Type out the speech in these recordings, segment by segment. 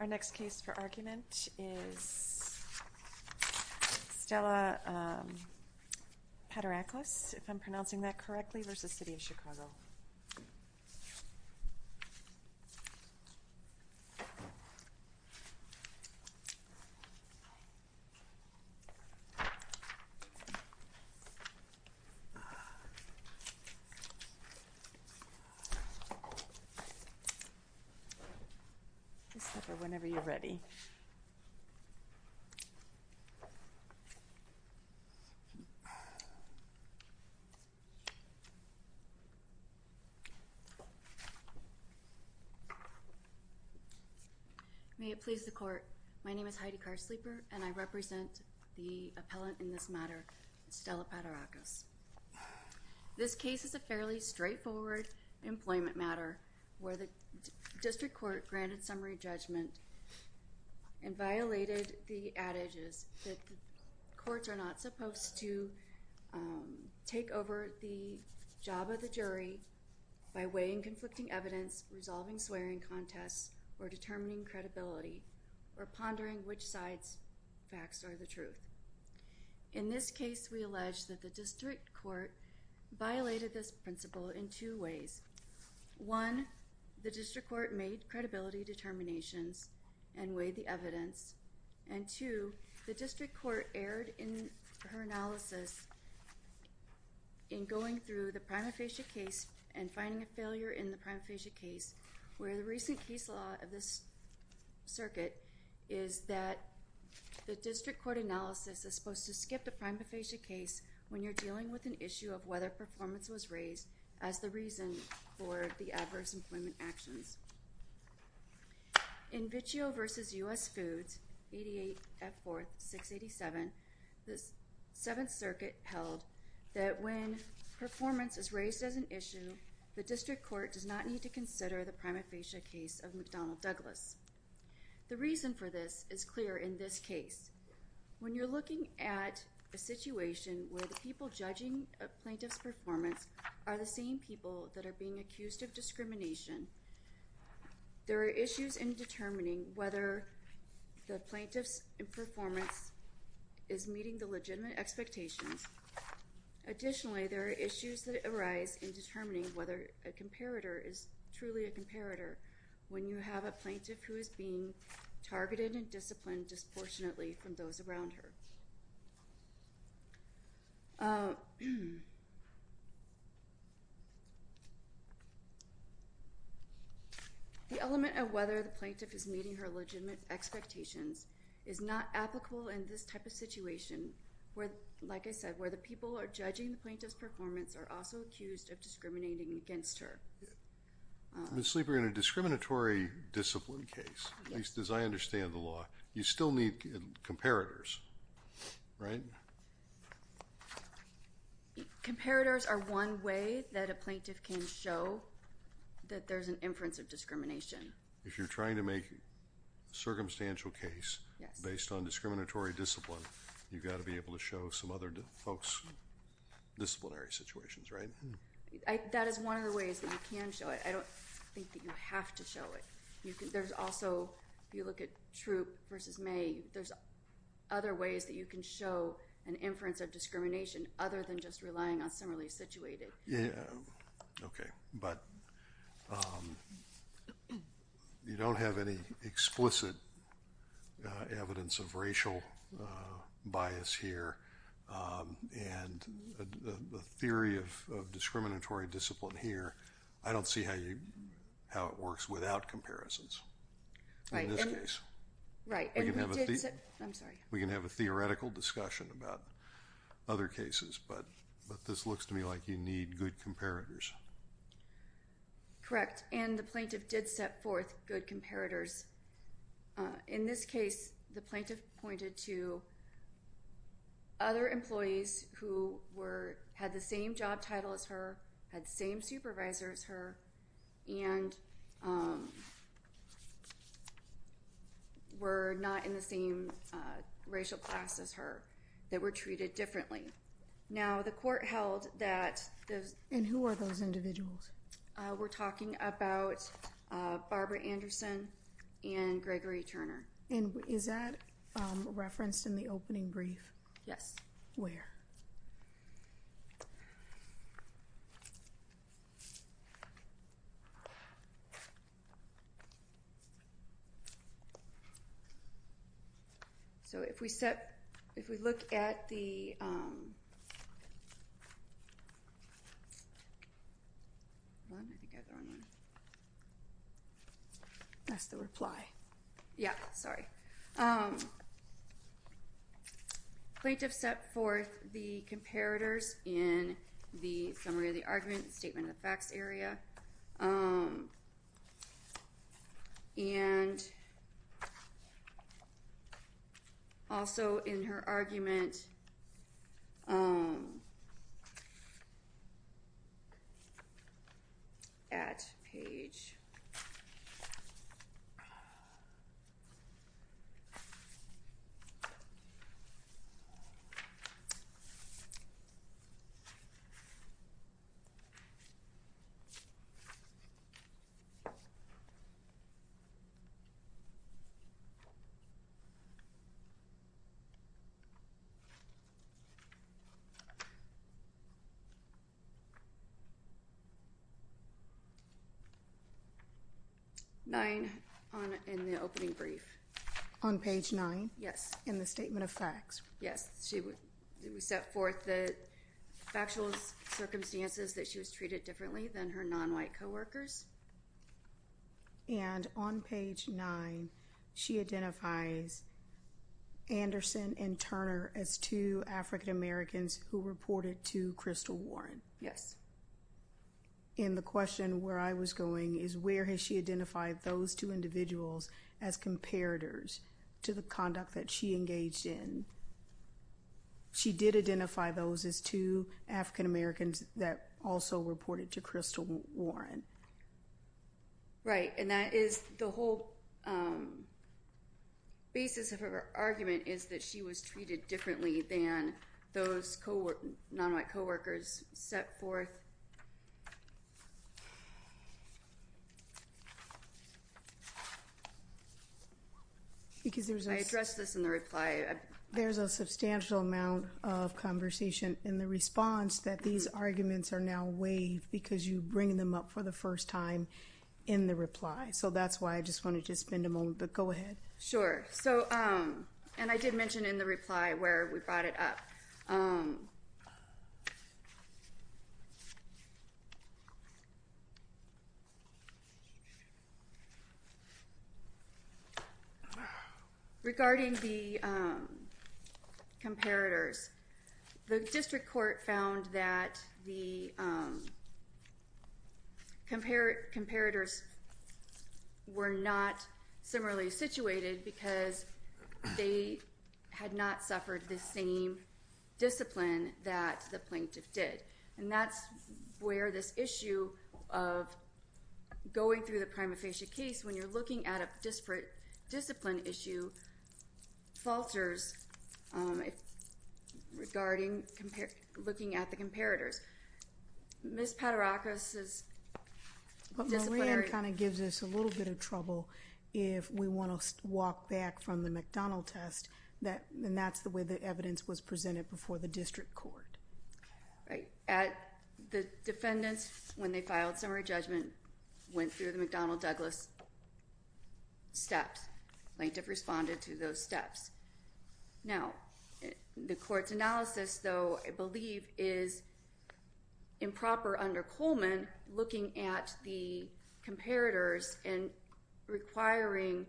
Our next case for argument is Stella Paterakos, if I'm pronouncing that correctly, v. City of Chicago. Please step up whenever you're ready. May it please the court, my name is Heidi Carsleeper and I represent the appellant in this matter, Stella Paterakos. This case is a fairly straightforward employment matter where the district court granted summary and violated the adages that courts are not supposed to take over the job of the jury by weighing conflicting evidence, resolving swearing contests, or determining credibility, or pondering which sides' facts are the truth. In this case, we allege that the district court violated this principle in two ways. One, the district court made credibility determinations and weighed the evidence. And two, the district court erred in her analysis in going through the prima facie case and finding a failure in the prima facie case, where the recent case law of this circuit is that the district court analysis is supposed to skip the prima facie case when you're for the adverse employment actions. In Vitchio v. U.S. Foods, 88 F. 4th, 687, the 7th Circuit held that when performance is raised as an issue, the district court does not need to consider the prima facie case of McDonnell Douglas. The reason for this is clear in this case. When you're looking at a situation where the people judging a plaintiff's performance are the same people that are being accused of discrimination, there are issues in determining whether the plaintiff's performance is meeting the legitimate expectations. Additionally, there are issues that arise in determining whether a comparator is truly a comparator when you have a plaintiff who is being targeted and disciplined disproportionately from those around her. The element of whether the plaintiff is meeting her legitimate expectations is not applicable in this type of situation where, like I said, where the people are judging the plaintiff's performance are also accused of discriminating against her. Ms. Lieber, in a discriminatory discipline case, at least as I understand the law, you still need comparators, right? Comparators are one way that a plaintiff can show that there's an inference of discrimination. If you're trying to make a circumstantial case based on discriminatory discipline, you've got to be able to show some other folks' disciplinary situations, right? That is one of the ways that you can show it. I don't think that you have to show it. There's also, if you look at Troup versus May, there's other ways that you can show an inference of discrimination other than just relying on similarly situated. Okay, but you don't have any explicit evidence of racial bias here, and the theory of discriminatory discipline here, I don't see how it works without comparisons in this case. Right. We can have a theoretical discussion about other cases, but this looks to me like you need good comparators. Correct, and the plaintiff did set forth good comparators. In this case, the plaintiff pointed to other employees who had the same job title as her, had the same supervisor as her, and were not in the same racial class as her, that were treated differently. Now, the court held that those— And who are those individuals? We're talking about Barbara Anderson and Gregory Turner. And is that referenced in the opening brief? Yes. Where? So if we look at the— That's the reply. Yeah, sorry. Plaintiff set forth the comparators in the summary of the argument, the statement of facts area, and also in her argument at page— 9 in the opening brief. On page 9? In the statement of facts? Yes. We set forth the factual circumstances that she was treated differently than her nonwhite coworkers. And on page 9, she identifies Anderson and Turner as two African Americans who reported to Crystal Warren. Yes. And the question where I was going is where has she identified those two individuals as comparators to the conduct that she engaged in? She did identify those as two African Americans that also reported to Crystal Warren. Right. And that is the whole basis of her argument is that she was treated differently than those coworkers set forth. I addressed this in the reply. There's a substantial amount of conversation in the response that these arguments are now waived because you bring them up for the first time in the reply. So that's why I just wanted to spend a moment. But go ahead. And I did mention in the reply where we brought it up. Regarding the comparators, the district court found that the comparators were not similarly situated because they had not suffered the same discipline that the plaintiff did. And that's where this issue of going through the prima facie case when you're looking at a disparate discipline issue falters regarding looking at the comparators. Ms. Paterakis' disciplinary... walk back from the McDonnell test, and that's the way the evidence was presented before the district court. Right. The defendants, when they filed summary judgment, went through the McDonnell-Douglas steps. Plaintiff responded to those steps. Now, the court's analysis, though, I believe is improper under Coleman looking at the comparators and requiring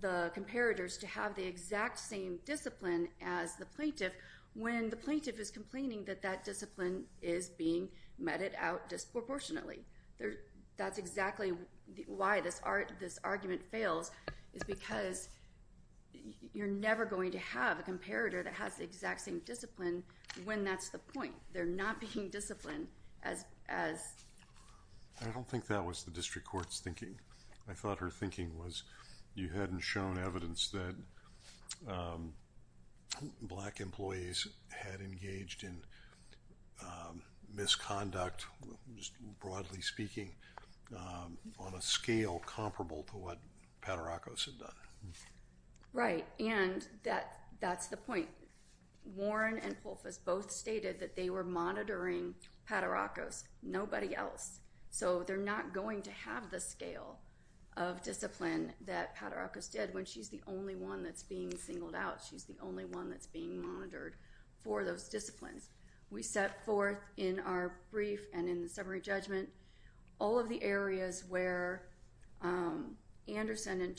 the comparators to have the exact same discipline as the plaintiff when the plaintiff is complaining that that discipline is being meted out disproportionately. That's exactly why this argument fails is because you're never going to have a comparator that has the exact same discipline when that's the point. They're not being disciplined as... I don't think that was the district court's thinking. I thought her thinking was you hadn't shown evidence that black employees had engaged in misconduct, broadly speaking, on a scale comparable to what Paterakis had done. Right. And that's the point. Warren and Pulfis both stated that they were monitoring Paterakis, nobody else. So they're not going to have the scale of discipline that Paterakis did when she's the only one that's being singled out. She's the only one that's being monitored for those disciplines. We set forth in our brief and in the summary judgment all of the areas where Anderson and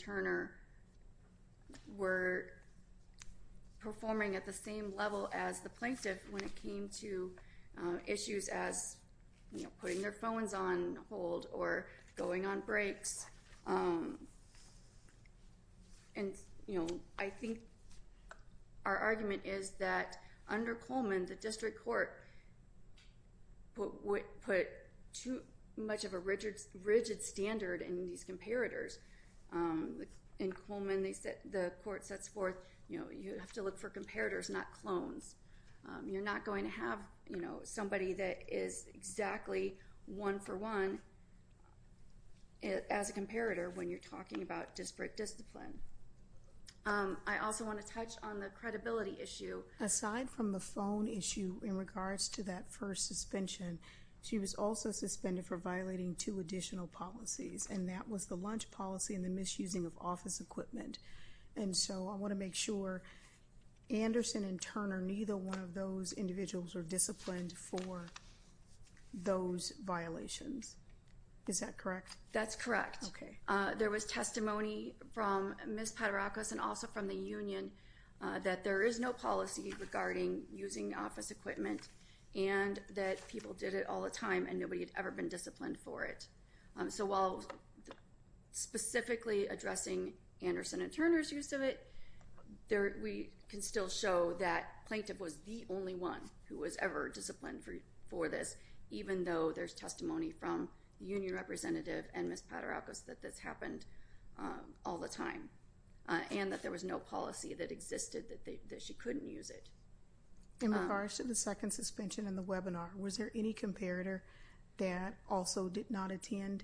at the same level as the plaintiff when it came to issues as putting their phones on hold or going on breaks. And I think our argument is that under Coleman, the district court put too much of a rigid standard in these comparators. In Coleman, the court sets forth you have to look for comparators, not clones. You're not going to have somebody that is exactly one for one as a comparator when you're talking about disparate discipline. I also want to touch on the credibility issue. Aside from the phone issue in regards to that first suspension, she was also suspended for policy and the misusing of office equipment. So I want to make sure Anderson and Turner, neither one of those individuals were disciplined for those violations. Is that correct? That's correct. There was testimony from Ms. Paterakis and also from the union that there is no policy regarding using office equipment and that people did it all the time and nobody had ever been disciplined for it. So while specifically addressing Anderson and Turner's use of it, we can still show that Plaintiff was the only one who was ever disciplined for this, even though there's testimony from the union representative and Ms. Paterakis that this happened all the time and that there was no policy that existed that she couldn't use it. In regards to the second suspension in the webinar, was there any comparator that also did not attend?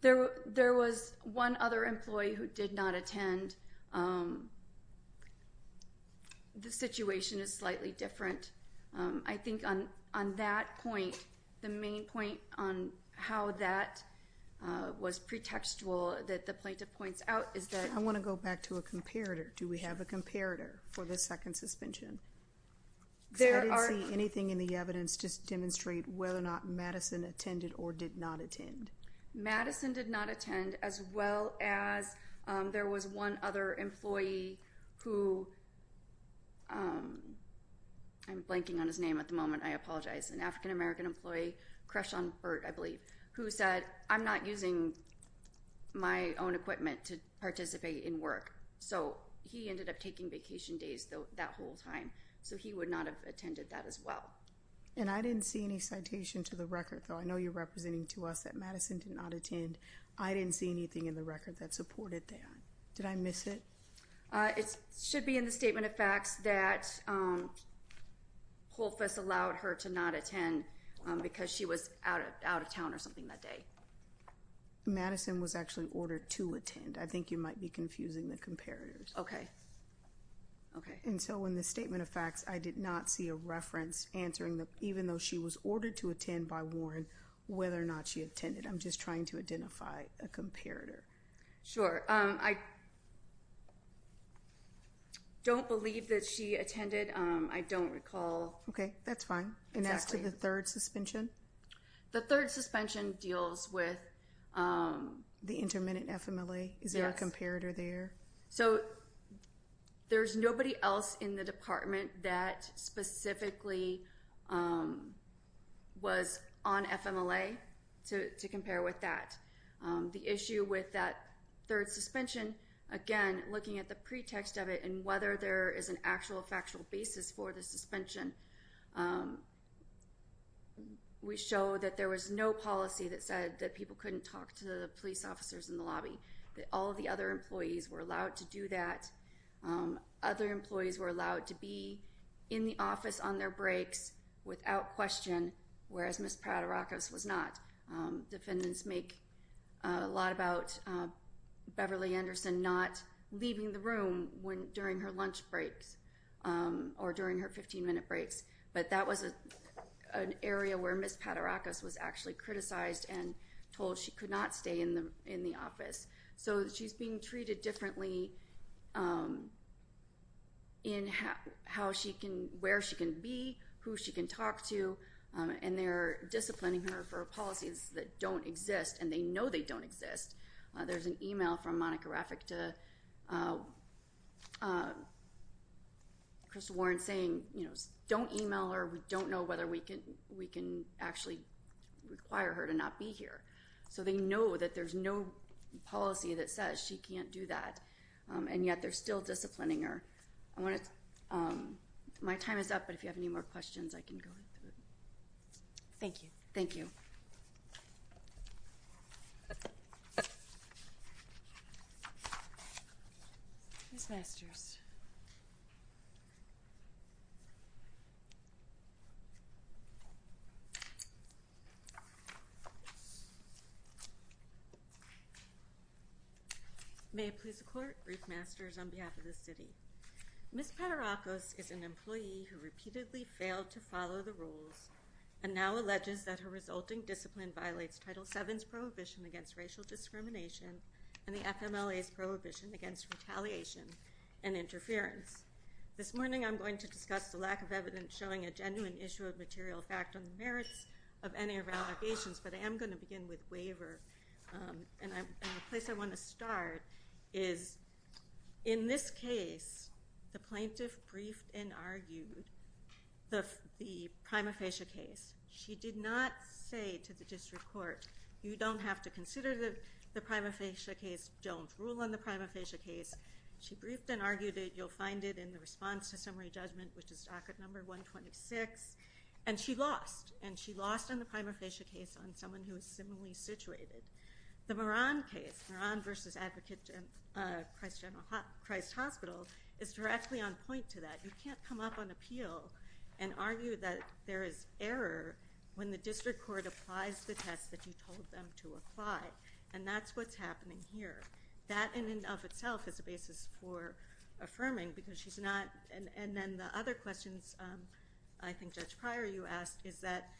There was one other employee who did not attend. The situation is slightly different. I think on that point, the main point on how that was pretextual that the Plaintiff points out is that... I want to go back to a comparator. Do we have a comparator for the second suspension? I didn't see anything in the evidence to demonstrate whether or not Madison attended or did not attend. Madison did not attend, as well as there was one other employee who... I'm blanking on his name at the moment. I apologize. An African-American employee, Kreshan Burt, I believe, who said, I'm not using my own equipment to participate in work. He ended up taking vacation days that whole time. He would not have attended that as well. I didn't see any citation to the record, though. I know you're representing to us that Madison did not attend. I didn't see anything in the record that supported that. Did I miss it? It should be in the statement of facts that Holfess allowed her to not attend because she was out of town or something that day. Madison was actually ordered to attend. I think you might be confusing the comparators. Okay. Okay. And so in the statement of facts, I did not see a reference answering that even though she was ordered to attend by Warren, whether or not she attended. I'm just trying to identify a comparator. Sure. I don't believe that she attended. I don't recall... Okay. That's fine. Exactly. And as to the third suspension? The third suspension deals with... The intermittent FMLA. Is there a comparator there? So there's nobody else in the department that specifically was on FMLA to compare with that. The issue with that third suspension, again, looking at the pretext of it and whether there was no policy that said that people couldn't talk to the police officers in the lobby. That all of the other employees were allowed to do that. Other employees were allowed to be in the office on their breaks without question, whereas Ms. Pratt-Arakos was not. Defendants make a lot about Beverly Anderson not leaving the room during her lunch breaks or during her 15-minute breaks. But that was an area where Ms. Pratt-Arakos was actually criticized and told she could not stay in the office. So she's being treated differently in where she can be, who she can talk to, and they're disciplining her for policies that don't exist, and they know they don't exist. There's an email from Monica Rafik to Crystal Warren saying, you know, don't email her. We don't know whether we can actually require her to not be here. So they know that there's no policy that says she can't do that, and yet they're still disciplining her. My time is up, but if you have any more questions, I can go through it. Thank you. Thank you. Ms. Masters. May it please the Court. Ruth Masters on behalf of the city. Ms. Pratt-Arakos is an employee who repeatedly failed to follow the rules and now alleges that her resulting discipline violates Title VII's prohibition against racial discrimination and the FMLA's prohibition against retaliation and interference. This morning I'm going to discuss the lack of evidence showing a genuine issue of material fact on the merits of any of allegations, but I am going to begin with waiver. And the place I want to start is in this case, the plaintiff briefed and argued the prima facie case. She did not say to the district court, you don't have to consider the prima facie case. Don't rule on the prima facie case. She briefed and argued it. You'll find it in the response to summary judgment, which is docket number 126. And she lost. And she lost on the prima facie case on someone who is similarly situated. The Moran case, Moran versus Advocate Christ General Christ Hospital, is directly on point to that. You can't come up on appeal and argue that there is error when the district court applies the test that you told them to apply. And that's what's happening here. That in and of itself is a basis for affirming because she's not, and then the other questions I think Judge Pryor, you asked, is that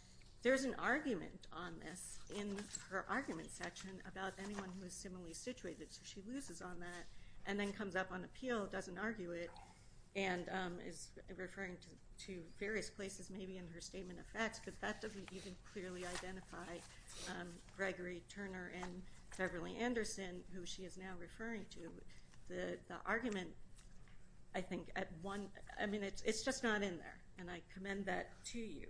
there's an argument on this in her argument section about anyone who is similarly situated. So she loses on that and then comes up on appeal, doesn't argue it. And is referring to various places maybe in her statement of facts, but that doesn't even clearly identify Gregory Turner and Beverly Anderson, who she is now referring to. The argument, I think, at one, I mean, it's just not in there. And I commend that to you.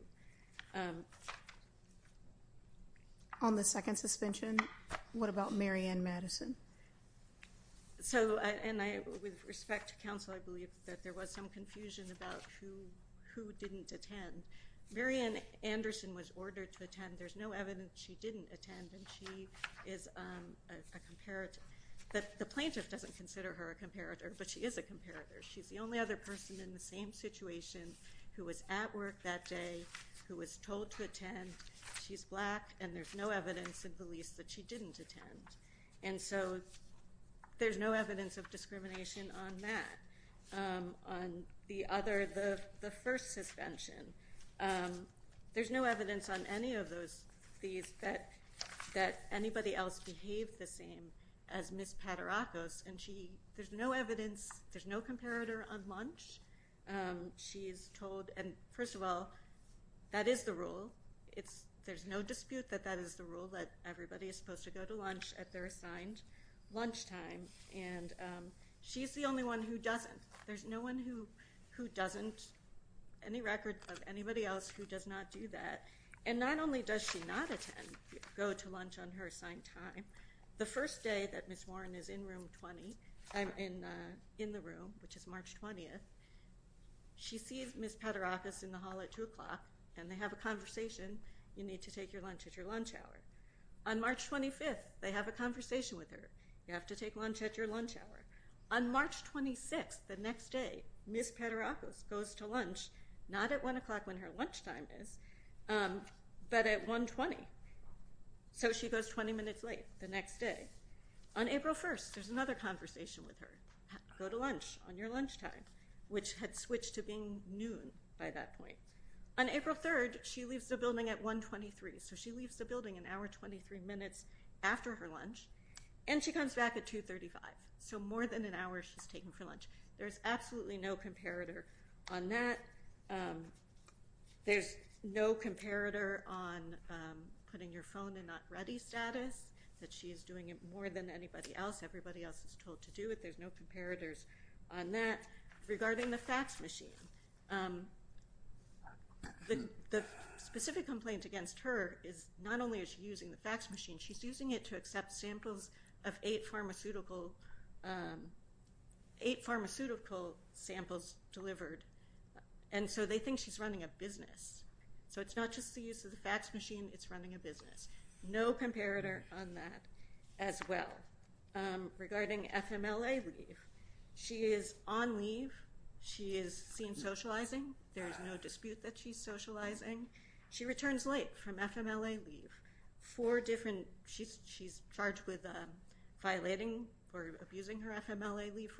On the second suspension, what about Mary Ann Madison? So, and I, with respect to counsel, I believe that there was some confusion about who didn't attend. Mary Ann Anderson was ordered to attend. There's no evidence she didn't attend, and she is a comparator. The plaintiff doesn't consider her a comparator, but she is a comparator. She's the only other person in the same situation who was at work that day, who was told to attend. She's black, and there's no evidence in Belize that she didn't attend. And so there's no evidence of discrimination on that. On the other, the first suspension, there's no evidence on any of those, that anybody else behaved the same as Ms. Paterakos. And she, there's no evidence, there's no comparator on lunch. She's told, and first of all, that is the rule. It's, there's no dispute that that is the rule, that everybody is supposed to go to lunch at their assigned lunchtime. And she's the only one who doesn't. There's no one who doesn't, any record of anybody else who does not do that. And not only does she not attend, go to lunch on her assigned time, the first day that Ms. Warren is in room 20, in the room, which is March 20th, she sees Ms. Paterakos in the hall at 2 o'clock, and they have a conversation. You need to take your lunch at your lunch hour. On March 25th, they have a conversation with her. You have to take lunch at your lunch hour. On March 26th, the next day, Ms. Paterakos goes to lunch, not at 1 o'clock when her lunchtime is, but at 1.20. So she goes 20 minutes late the next day. On April 1st, there's another conversation with her. Go to lunch on your lunchtime, which had switched to being noon by that point. On April 3rd, she leaves the building at 1.23. So she leaves the building an hour 23 minutes after her lunch, and she comes back at 2.35. So more than an hour she's taking for lunch. There's absolutely no comparator on that. There's no comparator on putting your phone in not ready status, that she is doing it more than anybody else. Everybody else is told to do it. There's no comparators on that. Regarding the fax machine, the specific complaint against her is not only is she using the fax machine, she's using it to accept samples of eight pharmaceutical samples delivered. And so they think she's running a business. So it's not just the use of the fax machine. It's running a business. No comparator on that as well. Regarding FMLA leave, she is on leave. She is seen socializing. There's no dispute that she's socializing. She returns late from FMLA leave. She's charged with violating or abusing her FMLA leave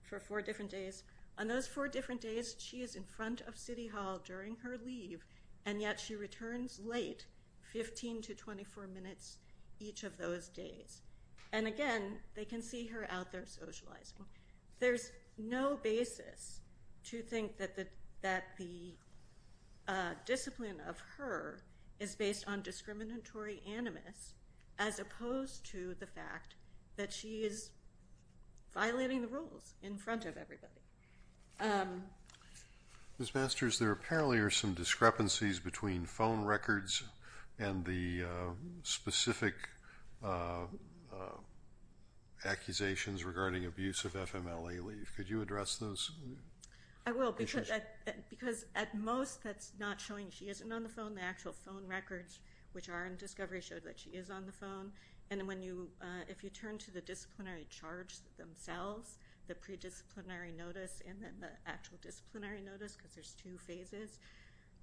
for four different days. On those four different days, she is in front of City Hall during her leave, and yet she returns late, 15 to 24 minutes each of those days. And, again, they can see her out there socializing. There's no basis to think that the discipline of her is based on discriminatory animus, as opposed to the fact that she is violating the rules in front of everybody. Ms. Masters, there apparently are some discrepancies between phone records and the specific accusations regarding abuse of FMLA leave. Could you address those? I will, because at most that's not showing she isn't on the phone. The actual phone records, which are in discovery, show that she is on the phone. And if you turn to the disciplinary charge themselves, the pre-disciplinary notice and then the actual disciplinary notice, because there's two phases,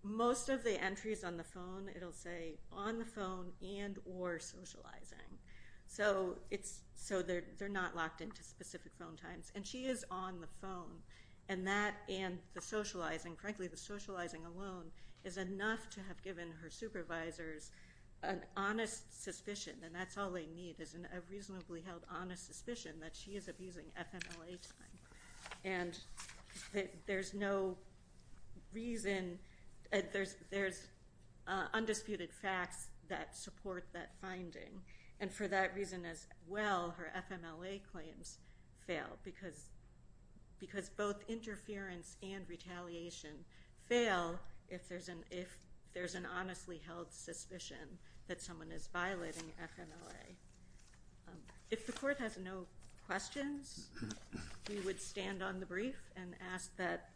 most of the entries on the phone, it will say on the phone and or socializing. So they're not locked into specific phone times. And she is on the phone. And that and the socializing, frankly the socializing alone, is enough to have given her supervisors an honest suspicion, and that's all they need is a reasonably held honest suspicion that she is abusing FMLA time. And there's no reason, there's undisputed facts that support that finding. And for that reason as well, her FMLA claims fail, because both interference and retaliation fail if there's an honestly held suspicion that someone is violating FMLA. If the court has no questions, we would stand on the brief and ask that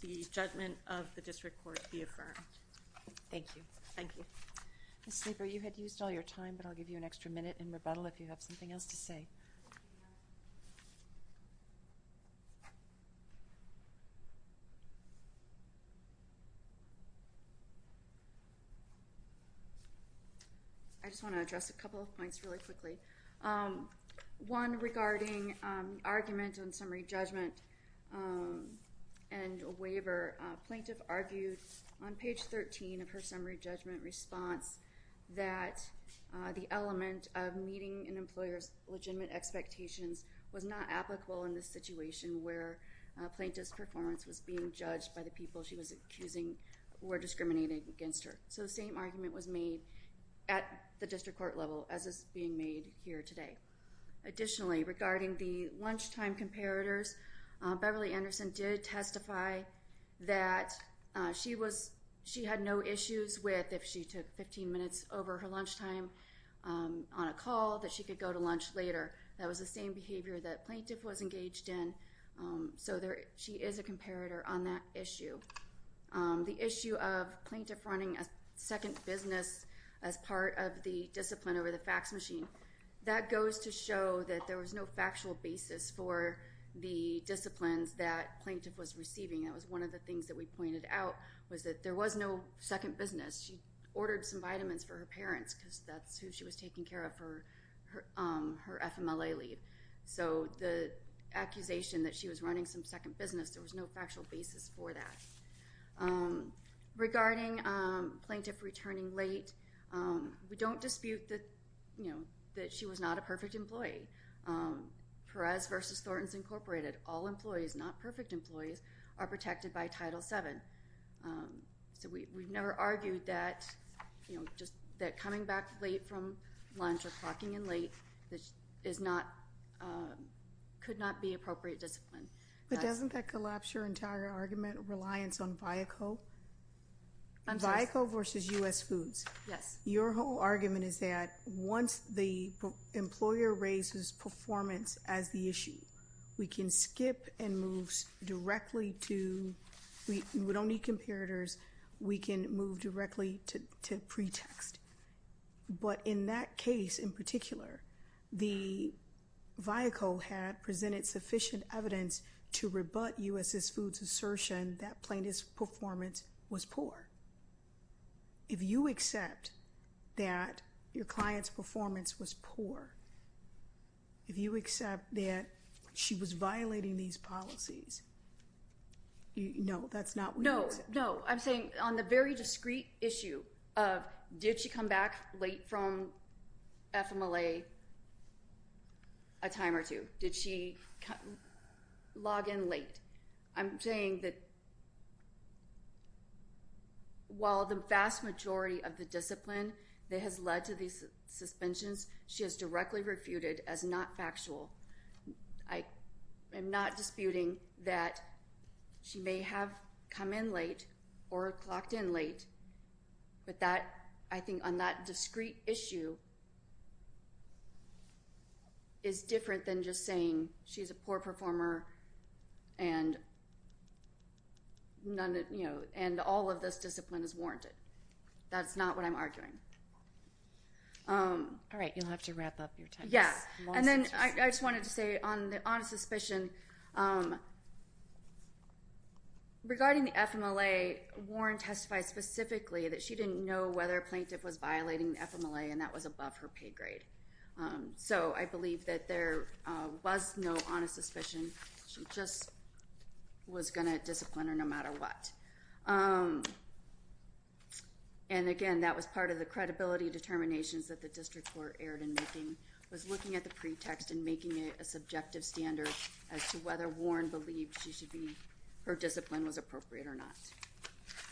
the judgment of the district court be affirmed. Thank you. Thank you. Ms. Sleeper, you had used all your time, but I'll give you an extra minute in rebuttal if you have something else to say. Thank you. I just want to address a couple of points really quickly. One regarding argument on summary judgment and waiver. A plaintiff argued on page 13 of her summary judgment response that the element of meeting an employer's legitimate expectations was not applicable in the situation where a plaintiff's performance was being judged by the people she was accusing were discriminating against her. So the same argument was made at the district court level, as is being made here today. Additionally, regarding the lunchtime comparators, Beverly Anderson did testify that she had no issues with if she took 15 minutes over her lunchtime on a call, that she could go to lunch later. That was the same behavior that plaintiff was engaged in. So she is a comparator on that issue. The issue of plaintiff running a second business as part of the discipline over the fax machine, that goes to show that there was no factual basis for the disciplines that plaintiff was receiving. That was one of the things that we pointed out, was that there was no second business. She ordered some vitamins for her parents because that's who she was taking care of for her FMLA leave. So the accusation that she was running some second business, there was no factual basis for that. Regarding plaintiff returning late, we don't dispute that she was not a perfect employee. Perez v. Thornton's Incorporated, all employees, not perfect employees, are protected by Title VII. So we've never argued that coming back late from lunch or clocking in late could not be appropriate discipline. But doesn't that collapse your entire argument, reliance on Viaco? Viaco v. U.S. Foods. Your whole argument is that once the employer raises performance as the issue, we can skip and move directly to, we don't need comparators, we can move directly to pretext. But in that case in particular, the Viaco had presented sufficient evidence to rebut U.S. Foods' assertion that plaintiff's performance was poor. If you accept that your client's performance was poor, if you accept that she was violating these policies, no, that's not what you accept. No, no. I'm saying on the very discreet issue of did she come back late from FMLA a time or two, did she log in late, I'm saying that while the vast majority of the discipline that has led to these suspensions she has directly refuted as not factual. I am not disputing that she may have come in late or clocked in late, but I think on that discreet issue is different than just saying she's a poor performer and all of this discipline is warranted. That's not what I'm arguing. All right. You'll have to wrap up your time. Yeah. And then I just wanted to say on the honest suspicion, regarding the FMLA, Warren testified specifically that she didn't know whether a plaintiff was violating FMLA and that was above her pay grade. So I believe that there was no honest suspicion. She just was going to discipline her no matter what. And, again, that was part of the credibility determinations that the district court erred in making, was looking at the pretext and making it a subjective standard as to whether Warren believed her discipline was appropriate or not.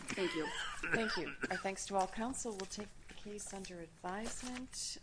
Thank you. Thank you. Our thanks to all counsel. We'll take the case under advisement.